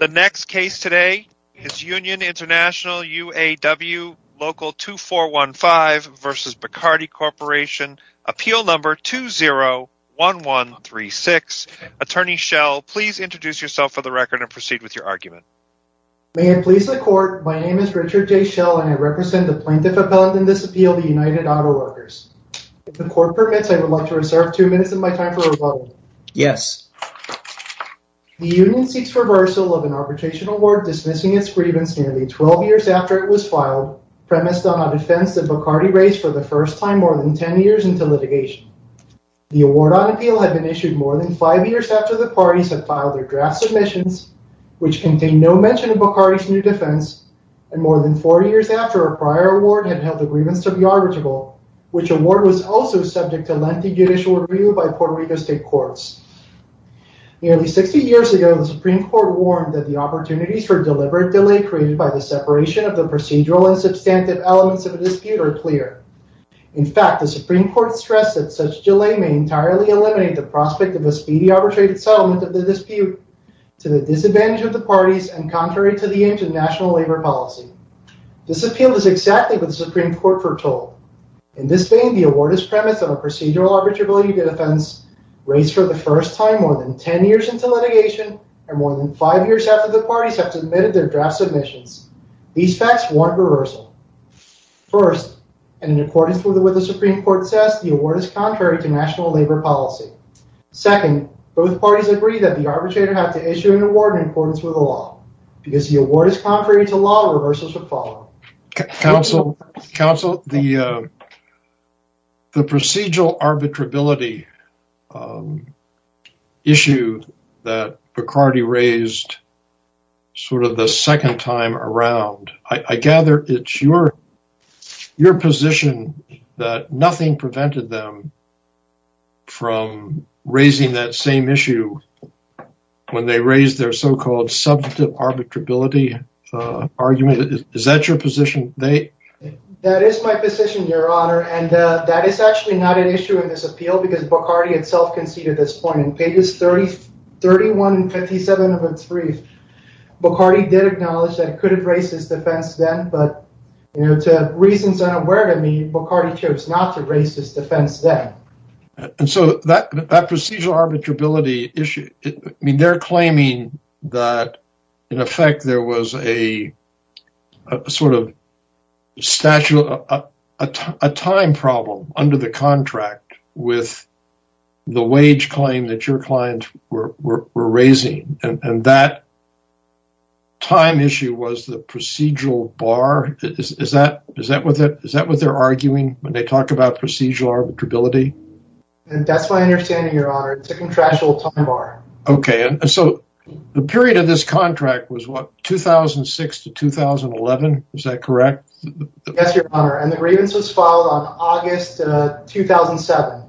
The next case today is Union International, UAW Local 2415 v. Bacardi Corporation, appeal number 201136. Attorney Schell, please introduce yourself for the record and proceed with your argument. May it please the court, my name is Richard J. Schell and I represent the plaintiff appellant in this appeal, the United Auto Workers. If the court permits, I would like to reserve 2 minutes of my time for rebuttal. Yes. The union seeks reversal of an arbitration award dismissing its grievance nearly 12 years after it was filed, premised on a defense that Bacardi raised for the first time more than 10 years into litigation. The award on appeal had been issued more than 5 years after the parties had filed their draft submissions, which contained no mention of Bacardi's new defense, and more than 4 years after a prior award had held the plaintiff judicial review by Puerto Rico state courts. Nearly 60 years ago, the Supreme Court warned that the opportunities for deliberate delay created by the separation of the procedural and substantive elements of a dispute are clear. In fact, the Supreme Court stressed that such delay may entirely eliminate the prospect of a speedy arbitrated settlement of the dispute to the disadvantage of the parties and contrary to the aims of national labor policy. This appeal is exactly what the Supreme Court foretold. In this vein, the award is premised on a procedural arbitrability defense raised for the first time more than 10 years into litigation and more than 5 years after the parties have submitted their draft submissions. These facts warrant reversal. First, and in accordance with what the Supreme Court says, the award is contrary to national labor policy. Second, both parties agree that the arbitrator had to issue an award in accordance with the law. Because the award is contrary to law, reversals would follow. Counsel, the procedural arbitrability issue that Bacardi raised sort of the second time around, I gather it's your position that nothing prevented them from raising that same issue when they raised their so-called substantive arbitrability argument. Is that your position? That is my position, Your Honor, and that is actually not an issue in this appeal because Bacardi himself conceded this point. In pages 31 and 57 of its brief, Bacardi did acknowledge that he could have raised his defense then, but to reasons unaware to me, Bacardi chose not to raise his defense then. And so that procedural arbitrability issue, I mean, they're claiming that in effect there was a sort of statute, a time problem under the contract with the wage claim that your client were raising. And that time issue was the procedural bar. Is that what they're arguing when they talk about procedural arbitrability? That's my understanding, Your Honor. It's a contractual time bar. Okay. And so the period of this contract was what, 2006 to 2011? Is that correct? Yes, Your Honor. And the grievance was filed on August 2007.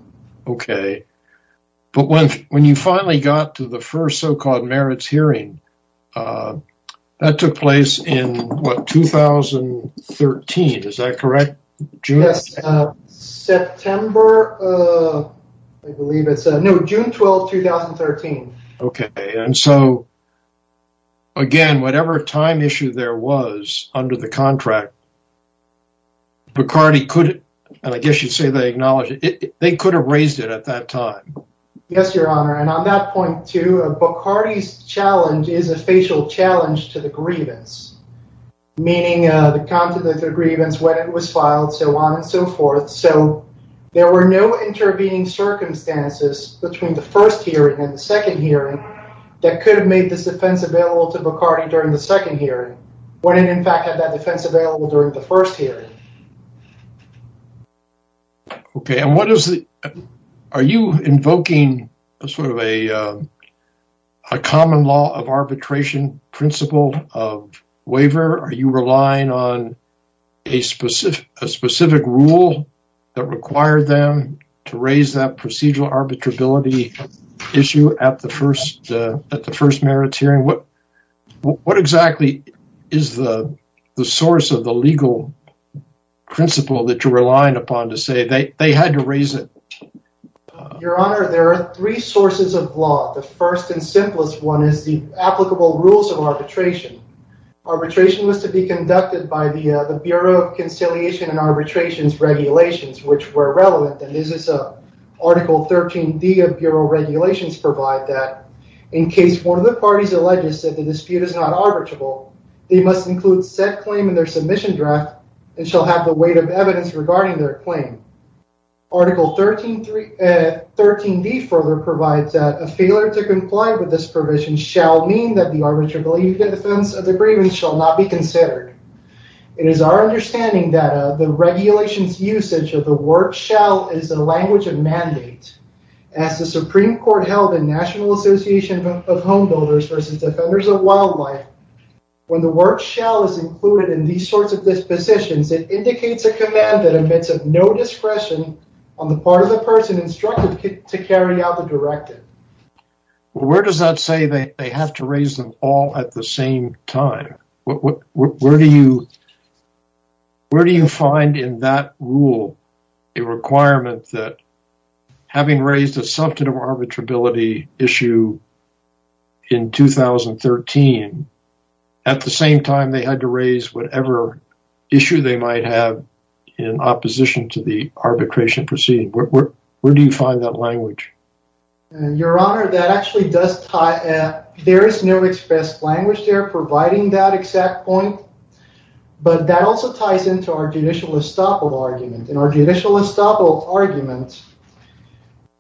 Okay. But when you finally got to the first so-called merits hearing, that took place in what, 2013. Is that correct, June? Yes. September, I believe it's, no, June 12, 2013. Okay. And so again, whatever time issue there was under the contract, Bacardi could, and I guess you'd say they acknowledged it, they could have raised it at that time. Yes, Your Honor. And on that point too, Bacardi's challenge is a facial challenge to the grievance, meaning the content of the grievance when it was filed, so on and so forth. So there were no intervening circumstances between the first hearing and the second hearing that could have made this defense available to Bacardi during the second hearing, when it in fact had that defense available during the first hearing. Okay. And what is the, are you invoking a sort of a common law of arbitration principle of waiver? Are you relying on a specific rule that required them to raise that procedural arbitrability issue at the first merits hearing? What exactly is the source of the legal principle that you're relying upon to say they had to raise it? Your Honor, there are three sources of law. The first and simplest one is the applicable rules of arbitration. Arbitration was to be conducted by the Bureau of Conciliation and Arbitrations Regulations, which were relevant, and this is Article 13d of Bureau Regulations provide that in case one of the parties alleges that the dispute is not arbitrable, they must include said claim in their submission draft and shall have the weight of evidence regarding their claim. Article 13d further provides that a failure to comply with this provision shall mean that the arbitrability defense of the grievance shall not be considered. It is our understanding that the regulations usage of the word shall is the language of mandate. As the Supreme Court held in National Association of Home Builders versus Defenders of Wildlife, when the word shall is included in these sorts of dispositions, it indicates a command that admits of no discretion on the part of the person instructed to carry out the directive. Where does that say they have to raise them all at the same time? Where do you find in that rule a requirement that having raised a substantive arbitrability issue in 2013, at the same time they had to raise whatever issue they might have in opposition to the arbitration proceeding? Where do you find that language? Your Honor, that actually does tie in. There is no expressed language there providing that exact point, but that also ties into our judicial estoppel argument. In our judicial estoppel argument,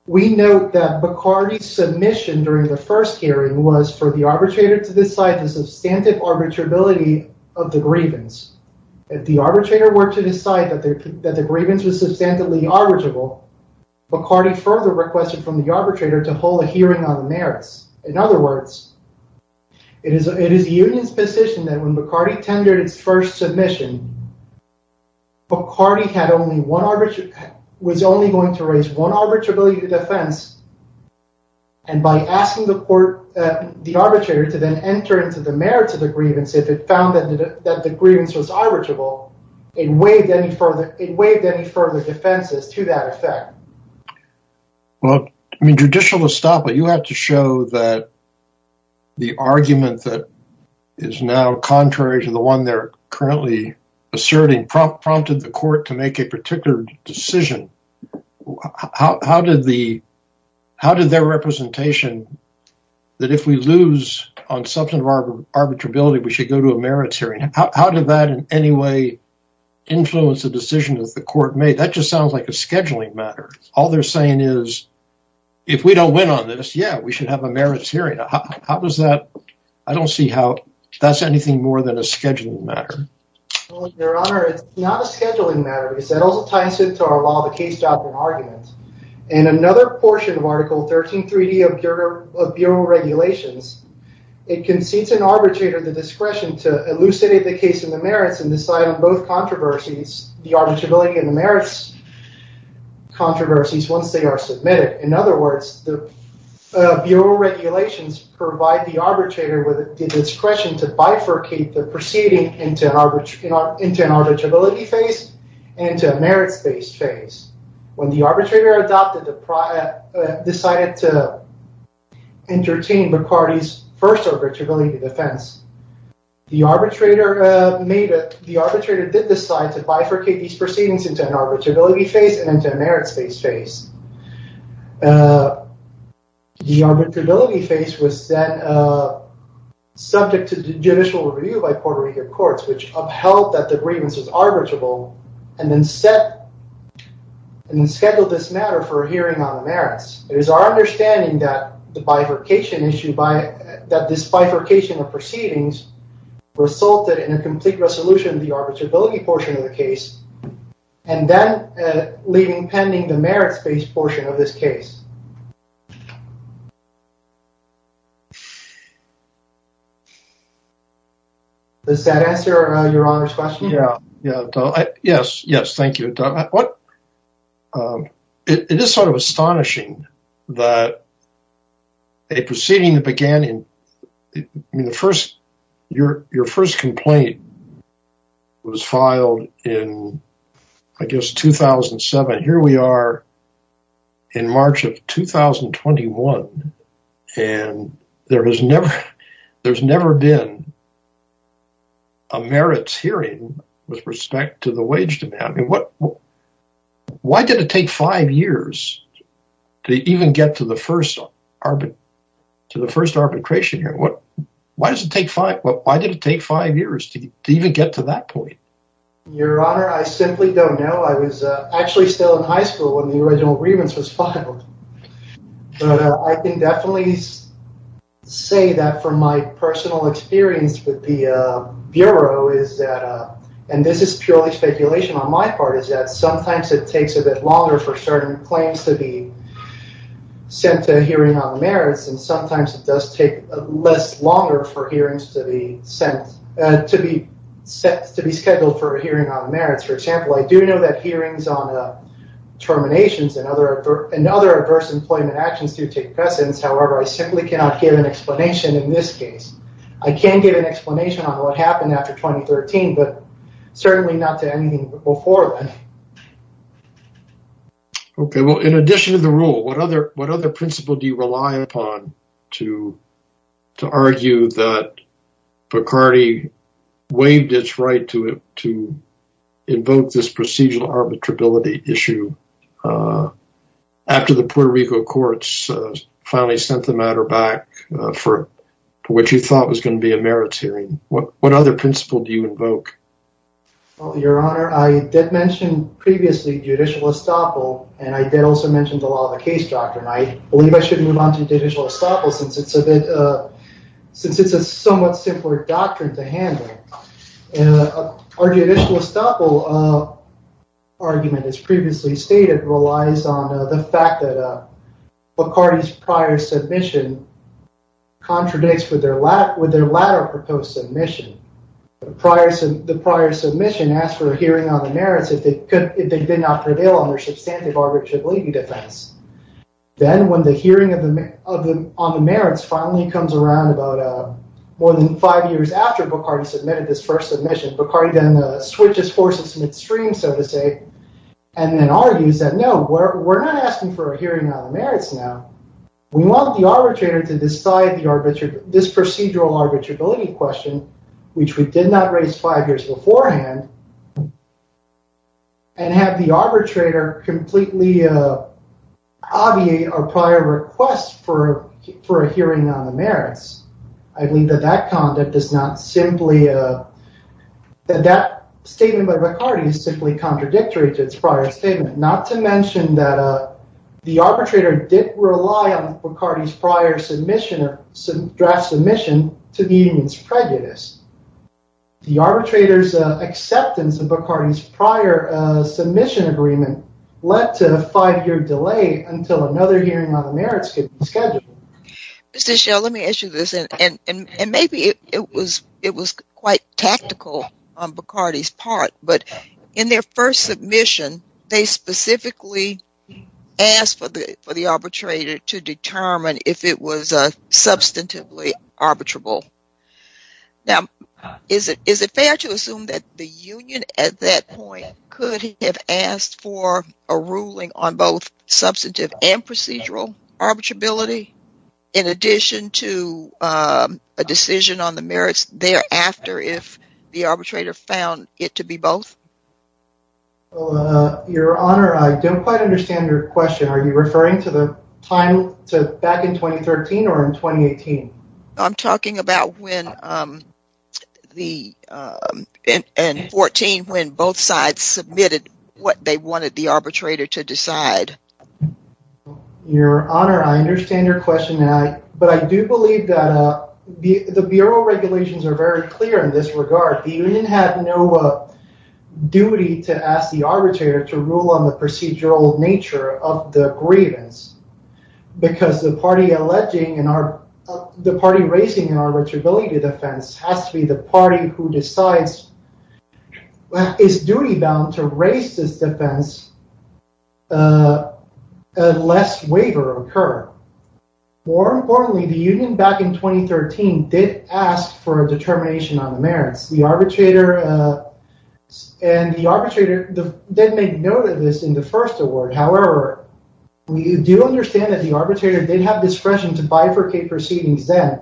we note that Bacardi's submission during the first hearing was for the arbitrator to decide the substantive arbitrability of the grievance. If the arbitrator were to decide that the grievance was substantively arbitrable, Bacardi further requested from the arbitrator to hold a hearing on the merits. In other words, it is the union's position that when Bacardi tendered its first submission, Bacardi was only going to raise one arbitrability defense and by asking the arbitrator to then enter into the merits of the grievance, if it found that the grievance was arbitrable, it waived any further defenses to that effect. Well, in judicial estoppel, you have to show that the argument that is now contrary to the one they're currently asserting prompted the court to make a particular decision. How did their representation that if we lose on substantive arbitrability, we should go to a merits hearing, how did that in any way influence the decision that the court made? That just sounds like a scheduling matter. All they're saying is, if we don't win on this, yeah, we should have a merits hearing. I don't see how that's anything more than a scheduling matter. Your Honor, it's not a scheduling matter. It also ties into our law of the case, doubt, and argument. In another portion of Article 13 3D of Bureau regulations, it concedes an arbitrator the discretion to elucidate the case in the merits and decide on both controversies, the arbitrability and the merits controversies, once they are submitted. In other words, the Bureau regulations provide the arbitrator with the discretion to bifurcate the proceeding into an arbitrability phase and to a merits-based phase. When the arbitrator decided to entertain McCarty's first arbitrability defense, the arbitrator did decide to bifurcate these proceedings into an arbitrability phase and into a merits-based phase. The arbitrability phase was then subject to judicial review by Puerto Rican courts, which upheld that the grievance was arbitrable and then scheduled this matter for a hearing on the merits. It is our understanding that this bifurcation of proceedings resulted in a complete resolution of the arbitrability portion of the case and then leaving pending the merits phase of the arbitrability portion of this case. Does that answer your honor's question? Yeah. Yes. Yes. Thank you. It is sort of astonishing that a proceeding that began in the first year, your first complaint was filed in, I guess, 2007. Here we are in March of 2021, and there has never been a merits hearing with respect to the wage demand. Why did it take five years to even get to the first arbitration hearing? Why did it take five years to even get to that point? Your honor, I simply don't know. I was actually still in high school when the original grievance was filed. I can definitely say that from my personal experience with the Bureau, and this is purely speculation on my part, is that sometimes it takes a bit longer for certain claims to be sent to a hearing on the merits, and sometimes it does take less longer for hearings to be scheduled for a hearing on the merits. For example, I do know that hearings on terminations and other adverse employment actions do take precedence. However, I simply cannot give an explanation in this case. I can give an explanation on what happened after 2013, but certainly not to anything before then. Okay. Well, in addition to the rule, what other principle do you rely upon to argue that Bacardi waived its right to invoke this procedural issue after the Puerto Rico courts finally sent the matter back for what you thought was going to be a merits hearing? What other principle do you invoke? Your honor, I did mention previously judicial estoppel, and I did also mention the law of the case doctrine. I believe I should move on to judicial estoppel since it's a somewhat simpler doctrine to handle. Our judicial estoppel argument, as previously stated, relies on the fact that Bacardi's prior submission contradicts with their latter proposed submission. The prior submission asked for a hearing on the merits if they did not prevail on their substantive defense. Then when the hearing on the merits finally comes around about more than five years after Bacardi submitted his first submission, Bacardi then switches forces midstream, so to say, and then argues that, no, we're not asking for a hearing on the merits now. We want the arbitrator to decide this procedural arbitrability question, which we did not raise five years beforehand, and have the arbitrator completely obviate our prior request for a hearing on the merits. I believe that that statement by Bacardi is simply contradictory to its prior statement, not to mention that the arbitrator did rely on Bacardi's prior draft submission to the The arbitrator's acceptance of Bacardi's prior submission agreement led to a five-year delay until another hearing on the merits could be scheduled. Mr. Schell, let me ask you this, and maybe it was quite tactical on Bacardi's part, but in their first submission, they specifically asked for the arbitrator to determine if it was substantively arbitrable. Now, is it fair to assume that the union at that point could have asked for a ruling on both substantive and procedural arbitrability in addition to a decision on the merits thereafter if the arbitrator found it to be both? Your Honor, I don't quite understand your time to back in 2013 or in 2018. I'm talking about when the, in 14, when both sides submitted what they wanted the arbitrator to decide. Your Honor, I understand your question, but I do believe that the bureau regulations are very clear in this regard. The union had no duty to ask the arbitrator to rule on the procedural nature of the grievance, because the party alleging, the party raising an arbitrability defense has to be the party who decides, is duty-bound to raise this defense unless waiver occur. More importantly, the union back in 2013 did ask for a determination on the merits. The arbitrator did make note of this in the first award. However, we do understand that the arbitrator did have discretion to bifurcate proceedings then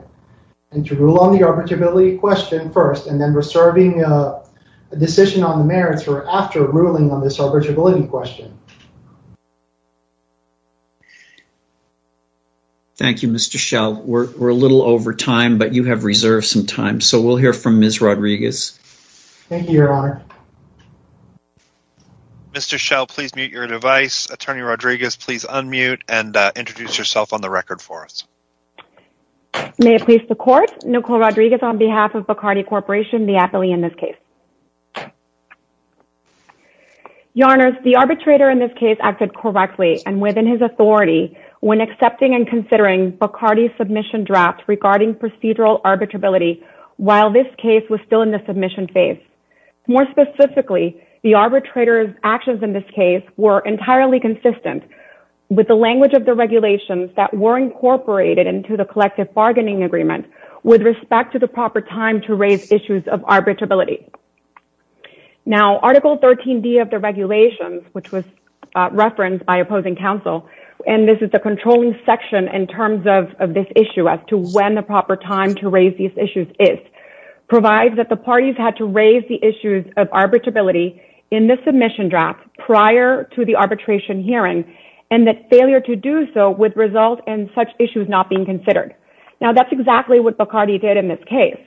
and to rule on the arbitrability question first and then reserving a decision on the merits for after ruling on this arbitrability question. Thank you, Mr. Schell. We're a little over time, but you have reserved some time, so we'll hear from Ms. Rodriguez. Thank you, Your Honor. Mr. Schell, please mute your device. Attorney Rodriguez, please unmute and introduce yourself on the record for us. May it please the court, Nicole Rodriguez on behalf of Bacardi Corporation, the appellee in this case. Your Honor, the arbitrator in this case acted correctly and within his authority when accepting and considering Bacardi's submission draft regarding procedural arbitrability while this case was still in the submission phase. More specifically, the arbitrator's actions in this case were entirely consistent with the language of the regulations that were incorporated into the collective bargaining agreement with respect to the proper time to raise issues of arbitrability. Now, Article 13D of the regulations, which was referenced by opposing counsel, and this is the controlling section in terms of this issue as to when the proper time to raise issues is, provides that the parties had to raise the issues of arbitrability in the submission draft prior to the arbitration hearing and that failure to do so would result in such issues not being considered. Now, that's exactly what Bacardi did in this case.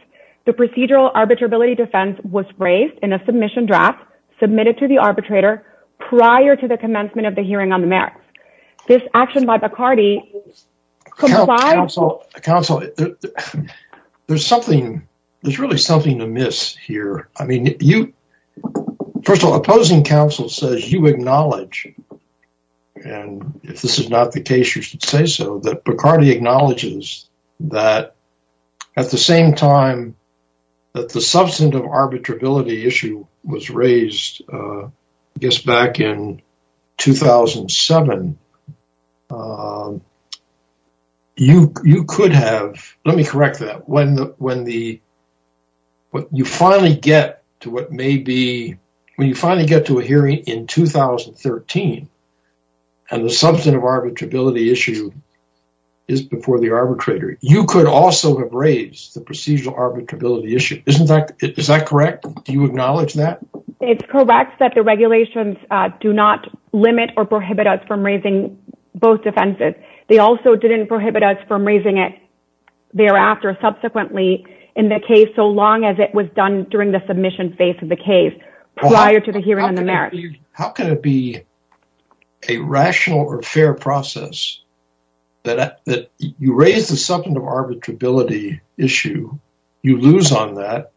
The procedural arbitrability defense was raised in a submission draft submitted to the arbitrator prior to the commencement of the hearing on the merits. This action by Bacardi... Counsel, there's really something to miss here. I mean, first of all, opposing counsel says you acknowledge, and if this is not the case, you should say so, that Bacardi acknowledges that at the same time that the substantive arbitrability issue was raised, I guess, back in 2007, and you could have... Let me correct that. When you finally get to a hearing in 2013 and the substantive arbitrability issue is before the arbitrator, you could also have raised the procedural arbitrability issue. Is that correct? Do you acknowledge that? It's correct that the regulations do not limit or prohibit us from raising both defenses. They also didn't prohibit us from raising it thereafter subsequently in the case so long as it was done during the submission phase of the case prior to the hearing on the merits. How can it be a rational or fair process that you raise the substantive arbitrability issue, you lose on that,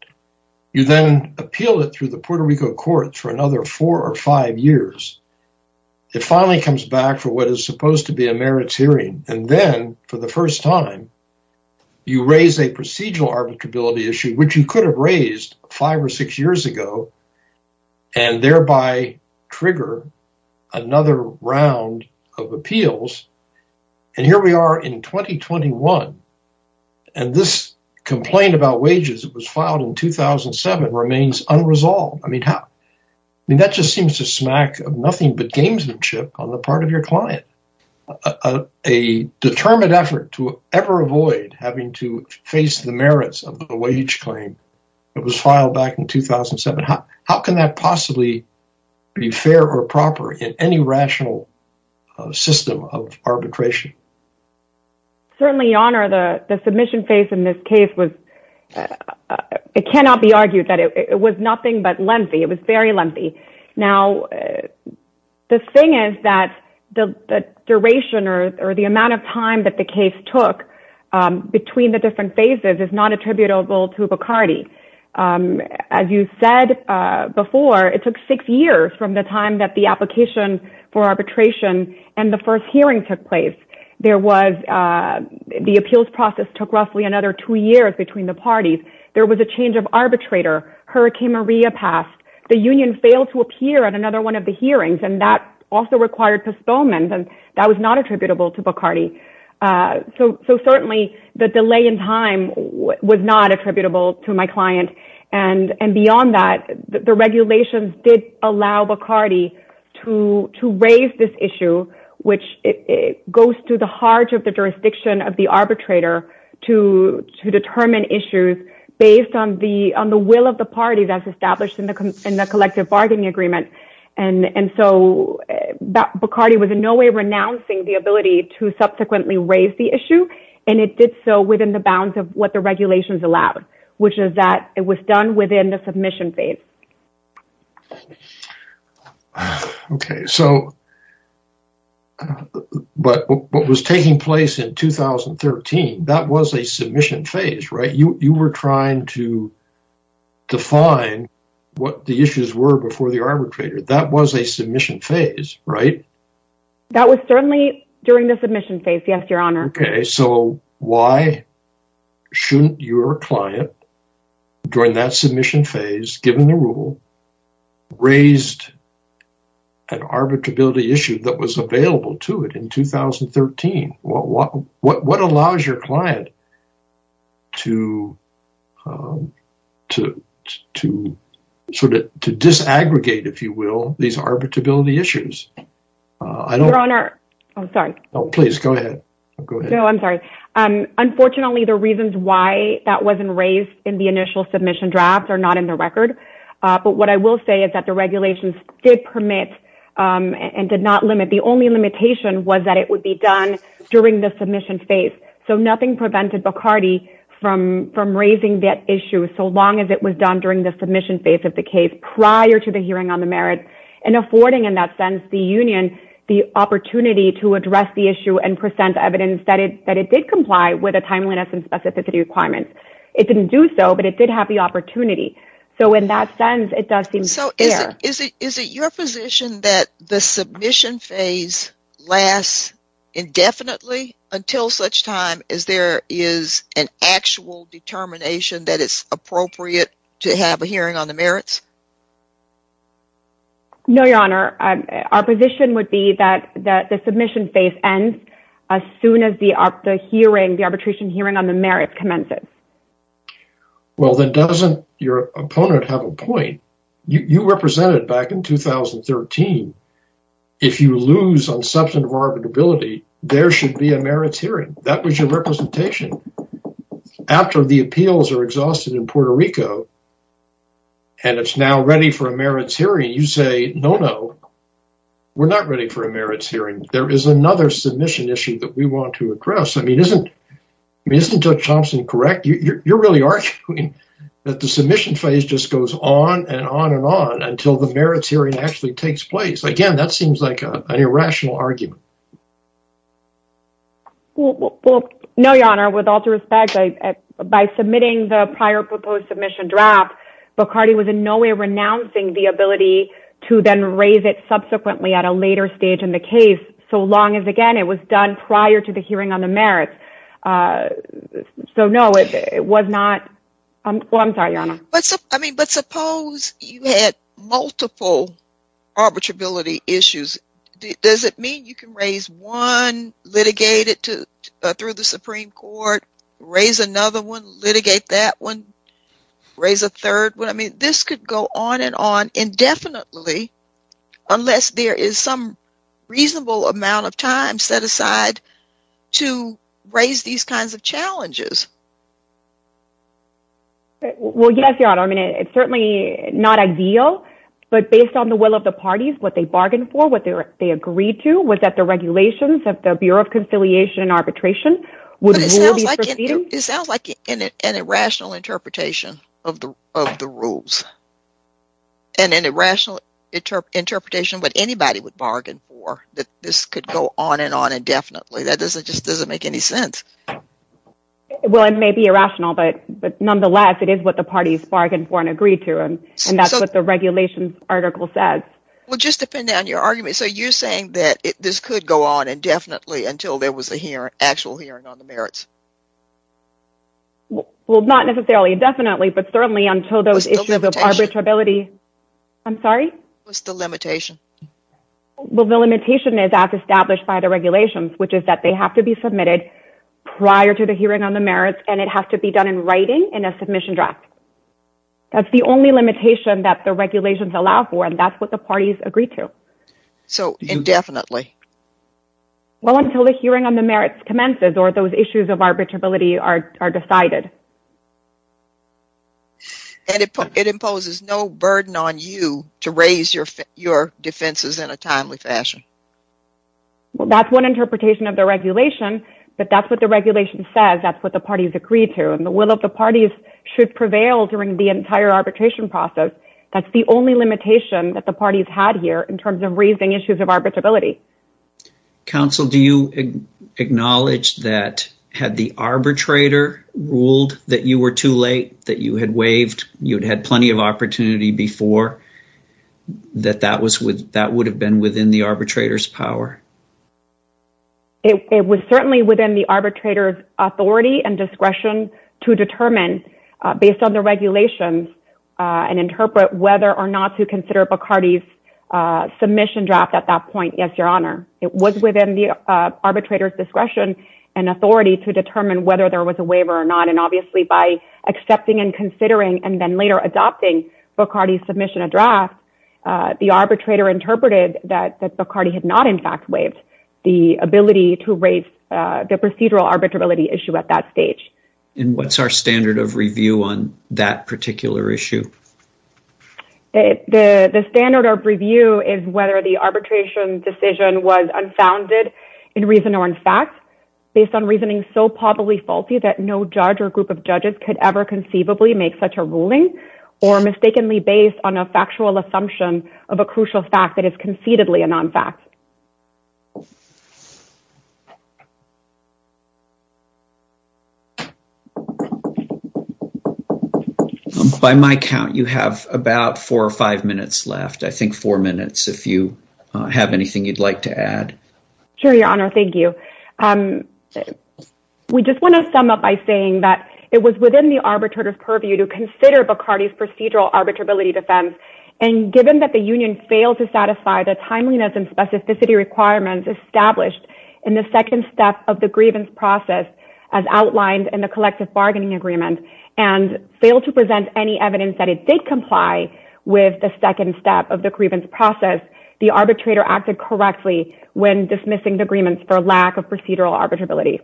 you then appeal it through the Puerto Rico courts for another four or five years, it finally comes back for what is supposed to be a merits hearing, and then for the first time, you raise a procedural arbitrability issue, which you could have raised five or six years ago, and thereby trigger another round of appeals, and here we are in 2021, and this complaint about wages that was filed in 2007 remains unresolved. That just seems to smack of nothing but gamesmanship on the part of your client. A determined effort to ever avoid having to face the merits of the wage claim that was filed back in 2007, how can that possibly be fair or proper in any rational system of arbitration? Certainly, Your Honor, the submission phase in this case, it cannot be argued that it was nothing but lengthy, it was very lengthy. Now, the thing is that the duration or the amount of time that the case took between the different phases is not attributable to Bacardi. As you said before, it took six years from the time that the application for arbitration and the first hearing took place. The appeals process took roughly another two years between the parties. There was a change of arbitrator, Hurricane Maria passed, the union failed to appear at another one of the hearings, and that also required postponement, and that was not attributable to Bacardi. So certainly, the delay in time was not attributable to my client, and beyond that, the regulations did allow Bacardi to raise this issue, which goes to the heart of the jurisdiction of the arbitrator to determine issues based on the will of the parties as established in the collective bargaining agreement. And so, Bacardi was in no way renouncing the ability to subsequently raise the issue, and it did so within the bounds of what regulations allowed, which is that it was done within the submission phase. Okay, so, but what was taking place in 2013, that was a submission phase, right? You were trying to define what the issues were before the arbitrator. That was a submission phase, right? That was certainly during the submission phase, yes, Your Honor. Okay, so why shouldn't your client, during that submission phase, given the rule, raised an arbitrability issue that was available to it in 2013? What allows your client to sort of disaggregate, if you will, these arbitrability issues? Your Honor, I'm sorry. Oh, please, go ahead. Go ahead. No, I'm sorry. Unfortunately, the reasons why that wasn't raised in the initial submission draft are not in the record, but what I will say is that the regulations did permit and did not limit. The only limitation was that it would be done during the submission phase. So, nothing prevented Bacardi from raising that issue, so long as it was done during the submission phase of the case, prior to the hearing on the merit, and affording, in that sense, the union the opportunity to address the issue and present evidence that it did comply with the timeliness and specificity requirements. It didn't do so, but it did have the opportunity. So, in that sense, it does seem fair. So, is it your position that the submission phase lasts indefinitely until such time as there is an actual determination that it's appropriate to have a hearing on the merits? No, Your Honor. Our position would be that the submission phase ends as soon as the arbitration hearing on the merits commences. Well, then, doesn't your opponent have a point? You represented, back in 2013, if you lose on substantive arbitrability, there should be a merits hearing. That was your representation. After the appeals are exhausted in Puerto Rico, and it's now ready for a merits hearing, you say, no, no, we're not ready for a merits hearing. There is another submission issue that we want to address. I mean, isn't Judge Thompson correct? You're really arguing that the submission phase just goes on and on and on until the merits hearing actually takes place. Again, that seems like an irrational argument. Well, no, Your Honor. With all due respect, by submitting the prior proposed submission, Bacardi was in no way renouncing the ability to then raise it subsequently at a later stage in the case, so long as, again, it was done prior to the hearing on the merits. So, no, it was not. Well, I'm sorry, Your Honor. But suppose you had multiple arbitrability issues. Does it mean you can raise one, litigate it through the Supreme Court, raise another one, litigate that one, raise a third one? I mean, this could go on and on indefinitely unless there is some reasonable amount of time set aside to raise these kinds of challenges. Well, yes, Your Honor. I mean, it's certainly not ideal, but based on the will of the parties, what they bargained for, what they agreed to, was that the regulations of the Bureau of Judicial Review could go on indefinitely. Well, it may be irrational, but nonetheless, it is what the parties bargained for and agreed to, and that's what the regulations article says. Well, just to pin down your argument, so you're saying that this could go on indefinitely until there was an actual hearing on the merits? Well, not necessarily indefinitely, but certainly until those issues of arbitrability. I'm sorry? What's the limitation? Well, the limitation is as established by the regulations, which is that they have to be submitted prior to the hearing on the merits and it has to be done in writing in a submission draft. That's the only limitation that the regulations allow for, and that's what the parties agreed to. So, indefinitely? Well, until the hearing on the merits commences or those issues of arbitrability are decided. And it imposes no burden on you to raise your defenses in a timely fashion? Well, that's one interpretation of the regulation, but that's what the regulation says. That's what the parties agreed to, and the will of the parties should prevail during the entire arbitration process. That's the only limitation that the parties had here in terms of raising issues of arbitrability. Counsel, do you acknowledge that had the arbitrator ruled that you were too late, that you had waived, you'd had plenty of opportunity before, that that would have been within the arbitrator's power? It was certainly within the arbitrator's authority and discretion to determine based on the regulations and interpret whether or not to consider Bacardi's submission draft at that point, yes, your honor. It was within the arbitrator's discretion and authority to determine whether there was a waiver or not, and obviously by accepting and considering and then later adopting Bacardi's submission of draft, the arbitrator interpreted that Bacardi had not in fact waived the ability to raise the procedural arbitrability issue at that stage. And what's our standard of review on that particular issue? The standard of review is whether the arbitration decision was unfounded in reason or in fact, based on reasoning so probably faulty that no judge or group of judges could ever conceivably make such a ruling, or mistakenly based on a factual assumption of a crucial fact that is about four or five minutes left. I think four minutes, if you have anything you'd like to add. Sure, your honor. Thank you. We just want to sum up by saying that it was within the arbitrator's purview to consider Bacardi's procedural arbitrability defense. And given that the union failed to satisfy the timeliness and specificity requirements established in the second step of the grievance process, as outlined in the collective bargaining agreement, and failed to present any evidence that it did comply with the second step of the grievance process, the arbitrator acted correctly when dismissing the agreements for lack of procedural arbitrability.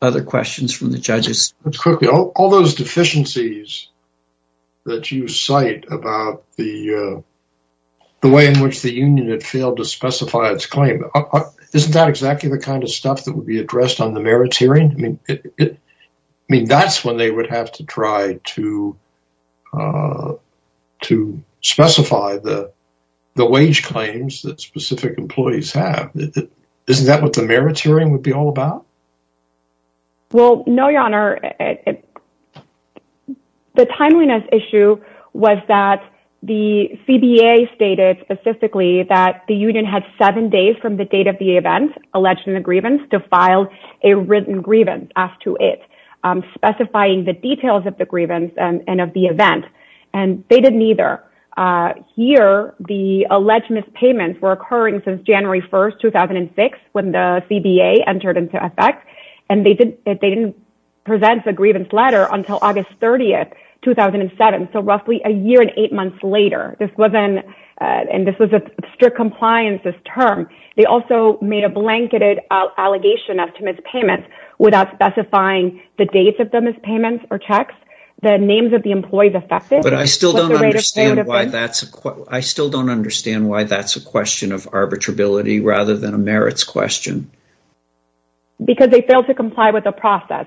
Other questions from the judges? Quickly, all those deficiencies that you cite about the way in which the union had failed to specify its claim, isn't that exactly the kind of stuff that would be addressed on the merits hearing? I mean, that's when they would have to try to specify the wage claims that specific employees have. Isn't that what the merits hearing would be all about? Well, no, your honor. The timeliness issue was that the CBA stated specifically that the union had seven days from date of the event alleged in the grievance to file a written grievance as to it, specifying the details of the grievance and of the event. And they didn't either. Here, the alleged mispayments were occurring since January 1st, 2006, when the CBA entered into effect, and they didn't present the grievance letter until August 30th, 2007. So roughly a year and strict compliance this term. They also made a blanketed allegation as to mispayments without specifying the dates of the mispayments or checks, the names of the employees affected. But I still don't understand why that's a question of arbitrability rather than a merits question. Because they failed to comply with the process.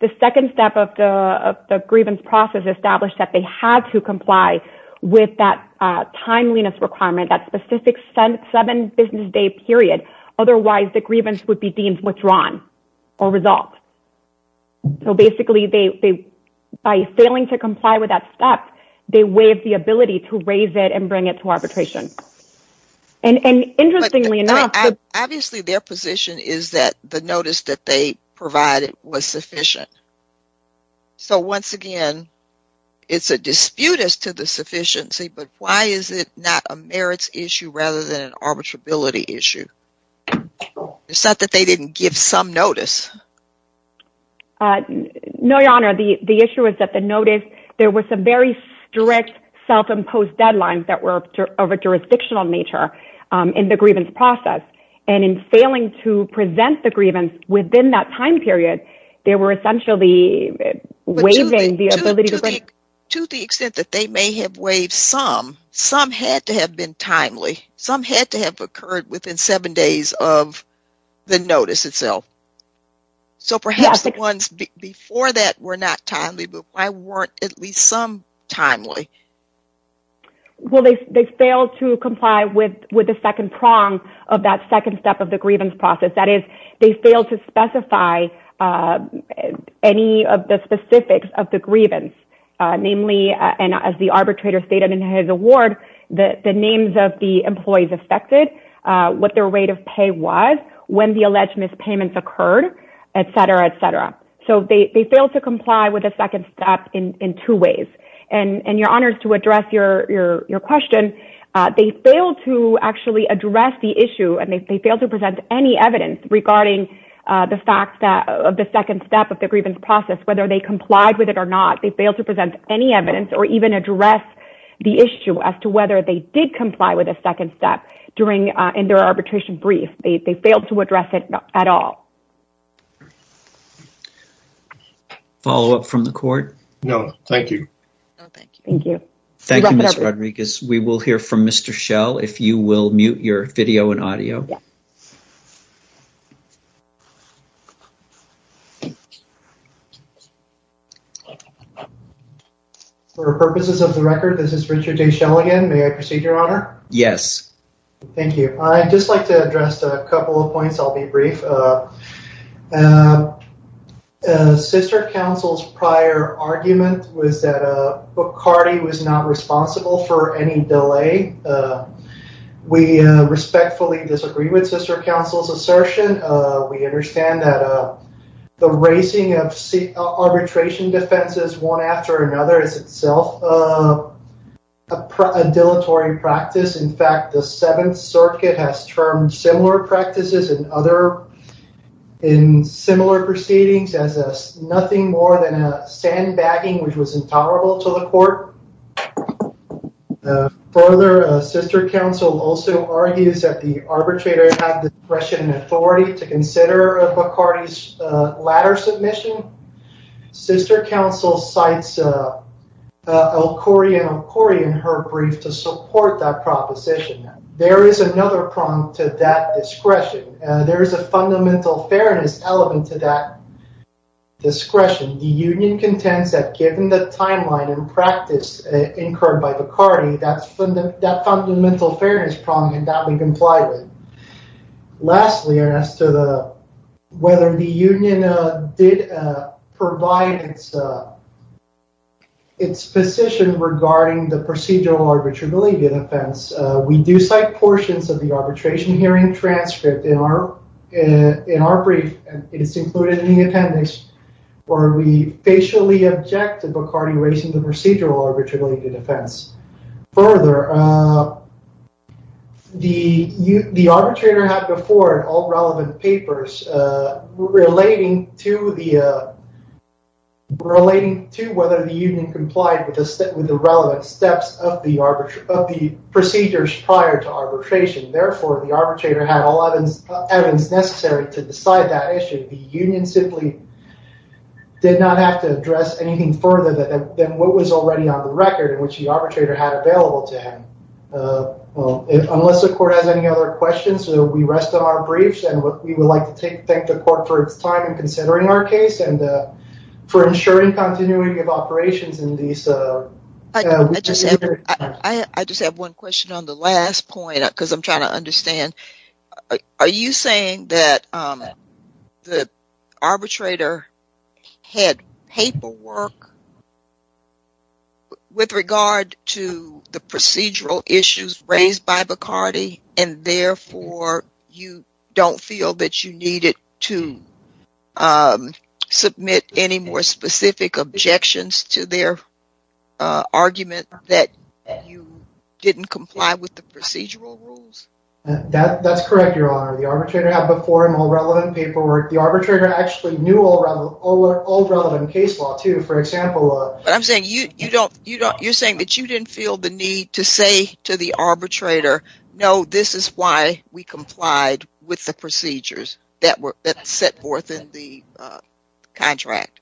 The second step of the grievance process established that they had to comply with that timeliness requirement, that specific seven business day period. Otherwise, the grievance would be deemed withdrawn or resolved. So basically, by failing to comply with that step, they waived the ability to raise it and bring it to arbitration. And interestingly enough, obviously their position is that the notice that provided was sufficient. So once again, it's a dispute as to the sufficiency, but why is it not a merits issue rather than an arbitrability issue? It's not that they didn't give some notice. No, Your Honor, the issue is that the notice, there were some very strict self-imposed deadlines that were of a jurisdictional nature in the grievance process. And in failing to present the grievance within that time period, they were essentially waiving the ability to bring it. To the extent that they may have waived some, some had to have been timely, some had to have occurred within seven days of the notice itself. So perhaps the ones before that were not timely, but why weren't at least some timely? Well, they failed to comply with the second prong of that second step of the grievance process. That is, they failed to specify any of the specifics of the grievance, namely, and as the arbitrator stated in his award, the names of the employees affected, what their rate of pay was, when the alleged mispayments occurred, et cetera, et cetera. So they failed to comply with the second step in two ways. And Your Honor, to address your question, they failed to actually address the issue and they regarding the fact that the second step of the grievance process, whether they complied with it or not, they failed to present any evidence or even address the issue as to whether they did comply with a second step during, in their arbitration brief. They failed to address it at all. Follow up from the court? No, thank you. Thank you. Thank you, Ms. Rodriguez. We will hear from Mr. Schell if you will mute your video and audio. For the purposes of the record, this is Richard J. Schell again. May I proceed, Your Honor? Yes. Thank you. I'd just like to address a couple of points. I'll be brief. Sister counsel's prior argument was that Bacardi was not responsible for any delay. We respectfully disagree with sister counsel's assertion. We understand that the raising of arbitration defenses one after another is itself a dilatory practice. In fact, the Seventh Circuit has termed similar practices in other, in similar proceedings as nothing more than a sandbagging which was intolerable to the court. Further, sister counsel also argues that the arbitrator had discretion and authority to consider Bacardi's latter submission. Sister counsel cites El-Khoury and El-Khoury in her brief to support that proposition. There is another prompt to that discretion. There is a fundamental fairness element to that discretion. The union contends that given the timeline and practice incurred by Bacardi, that fundamental fairness problem can be complied with. Lastly, as to whether the union did provide its position regarding the procedural arbitral deletion offense, we do cite portions of the arbitration hearing transcript in our brief. It is included in the appendix where we facially object to Bacardi raising the procedural arbitral deletion offense. Further, the arbitrator had before all relevant papers relating to whether the union complied with the relevant steps of the procedures prior to evidence necessary to decide that issue. The union simply did not have to address anything further than what was already on the record in which the arbitrator had available to him. Unless the court has any other questions, we rest on our briefs and we would like to thank the court for its time in considering our case and for ensuring continuity of operations. I just have one question on the last point because I'm trying to understand. Are you saying that the arbitrator had paperwork with regard to the procedural issues raised by Bacardi and therefore you don't feel that you needed to submit any more specific objections to their argument that you didn't comply with the procedural rules? That's correct, Your Honor. The arbitrator had before him all relevant paperwork. The arbitrator actually knew all relevant case law, too. For example... But I'm saying you're saying that you didn't feel the need to say to the arbitrator, no, this is why we complied with the procedures that were set forth in the contract.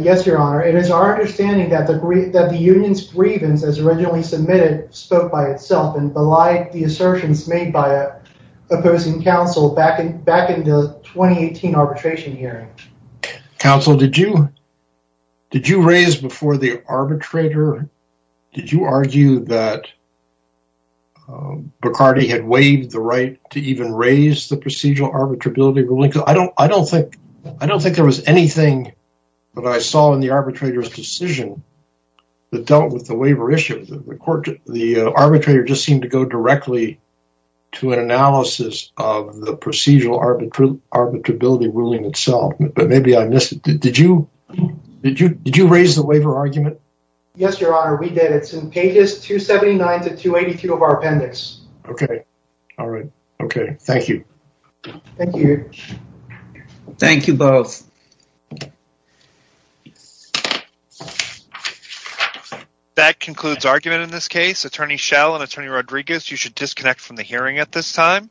Yes, Your Honor. It is our understanding that the union's grievance as originally submitted spoke by itself and belied the assertions made by opposing counsel back in the 2018 arbitration hearing. Counsel, did you raise before the arbitrator, did you argue that Bacardi had waived the right to even raise the procedural arbitrability ruling? I don't think there was anything that I saw in the arbitrator's decision that dealt with the waiver issue. The arbitrator just seemed to go directly to an analysis of the procedural arbitrability ruling itself, but maybe I missed it. Did you raise the waiver argument? Yes, Your Honor, we did. It's in pages 279 to 282 of our appendix. Okay. All right. Okay. Thank you. Thank you. Thank you both. Thank you. That concludes argument in this case. Attorney Schell and Attorney Rodriguez, you should disconnect from the hearing at this time.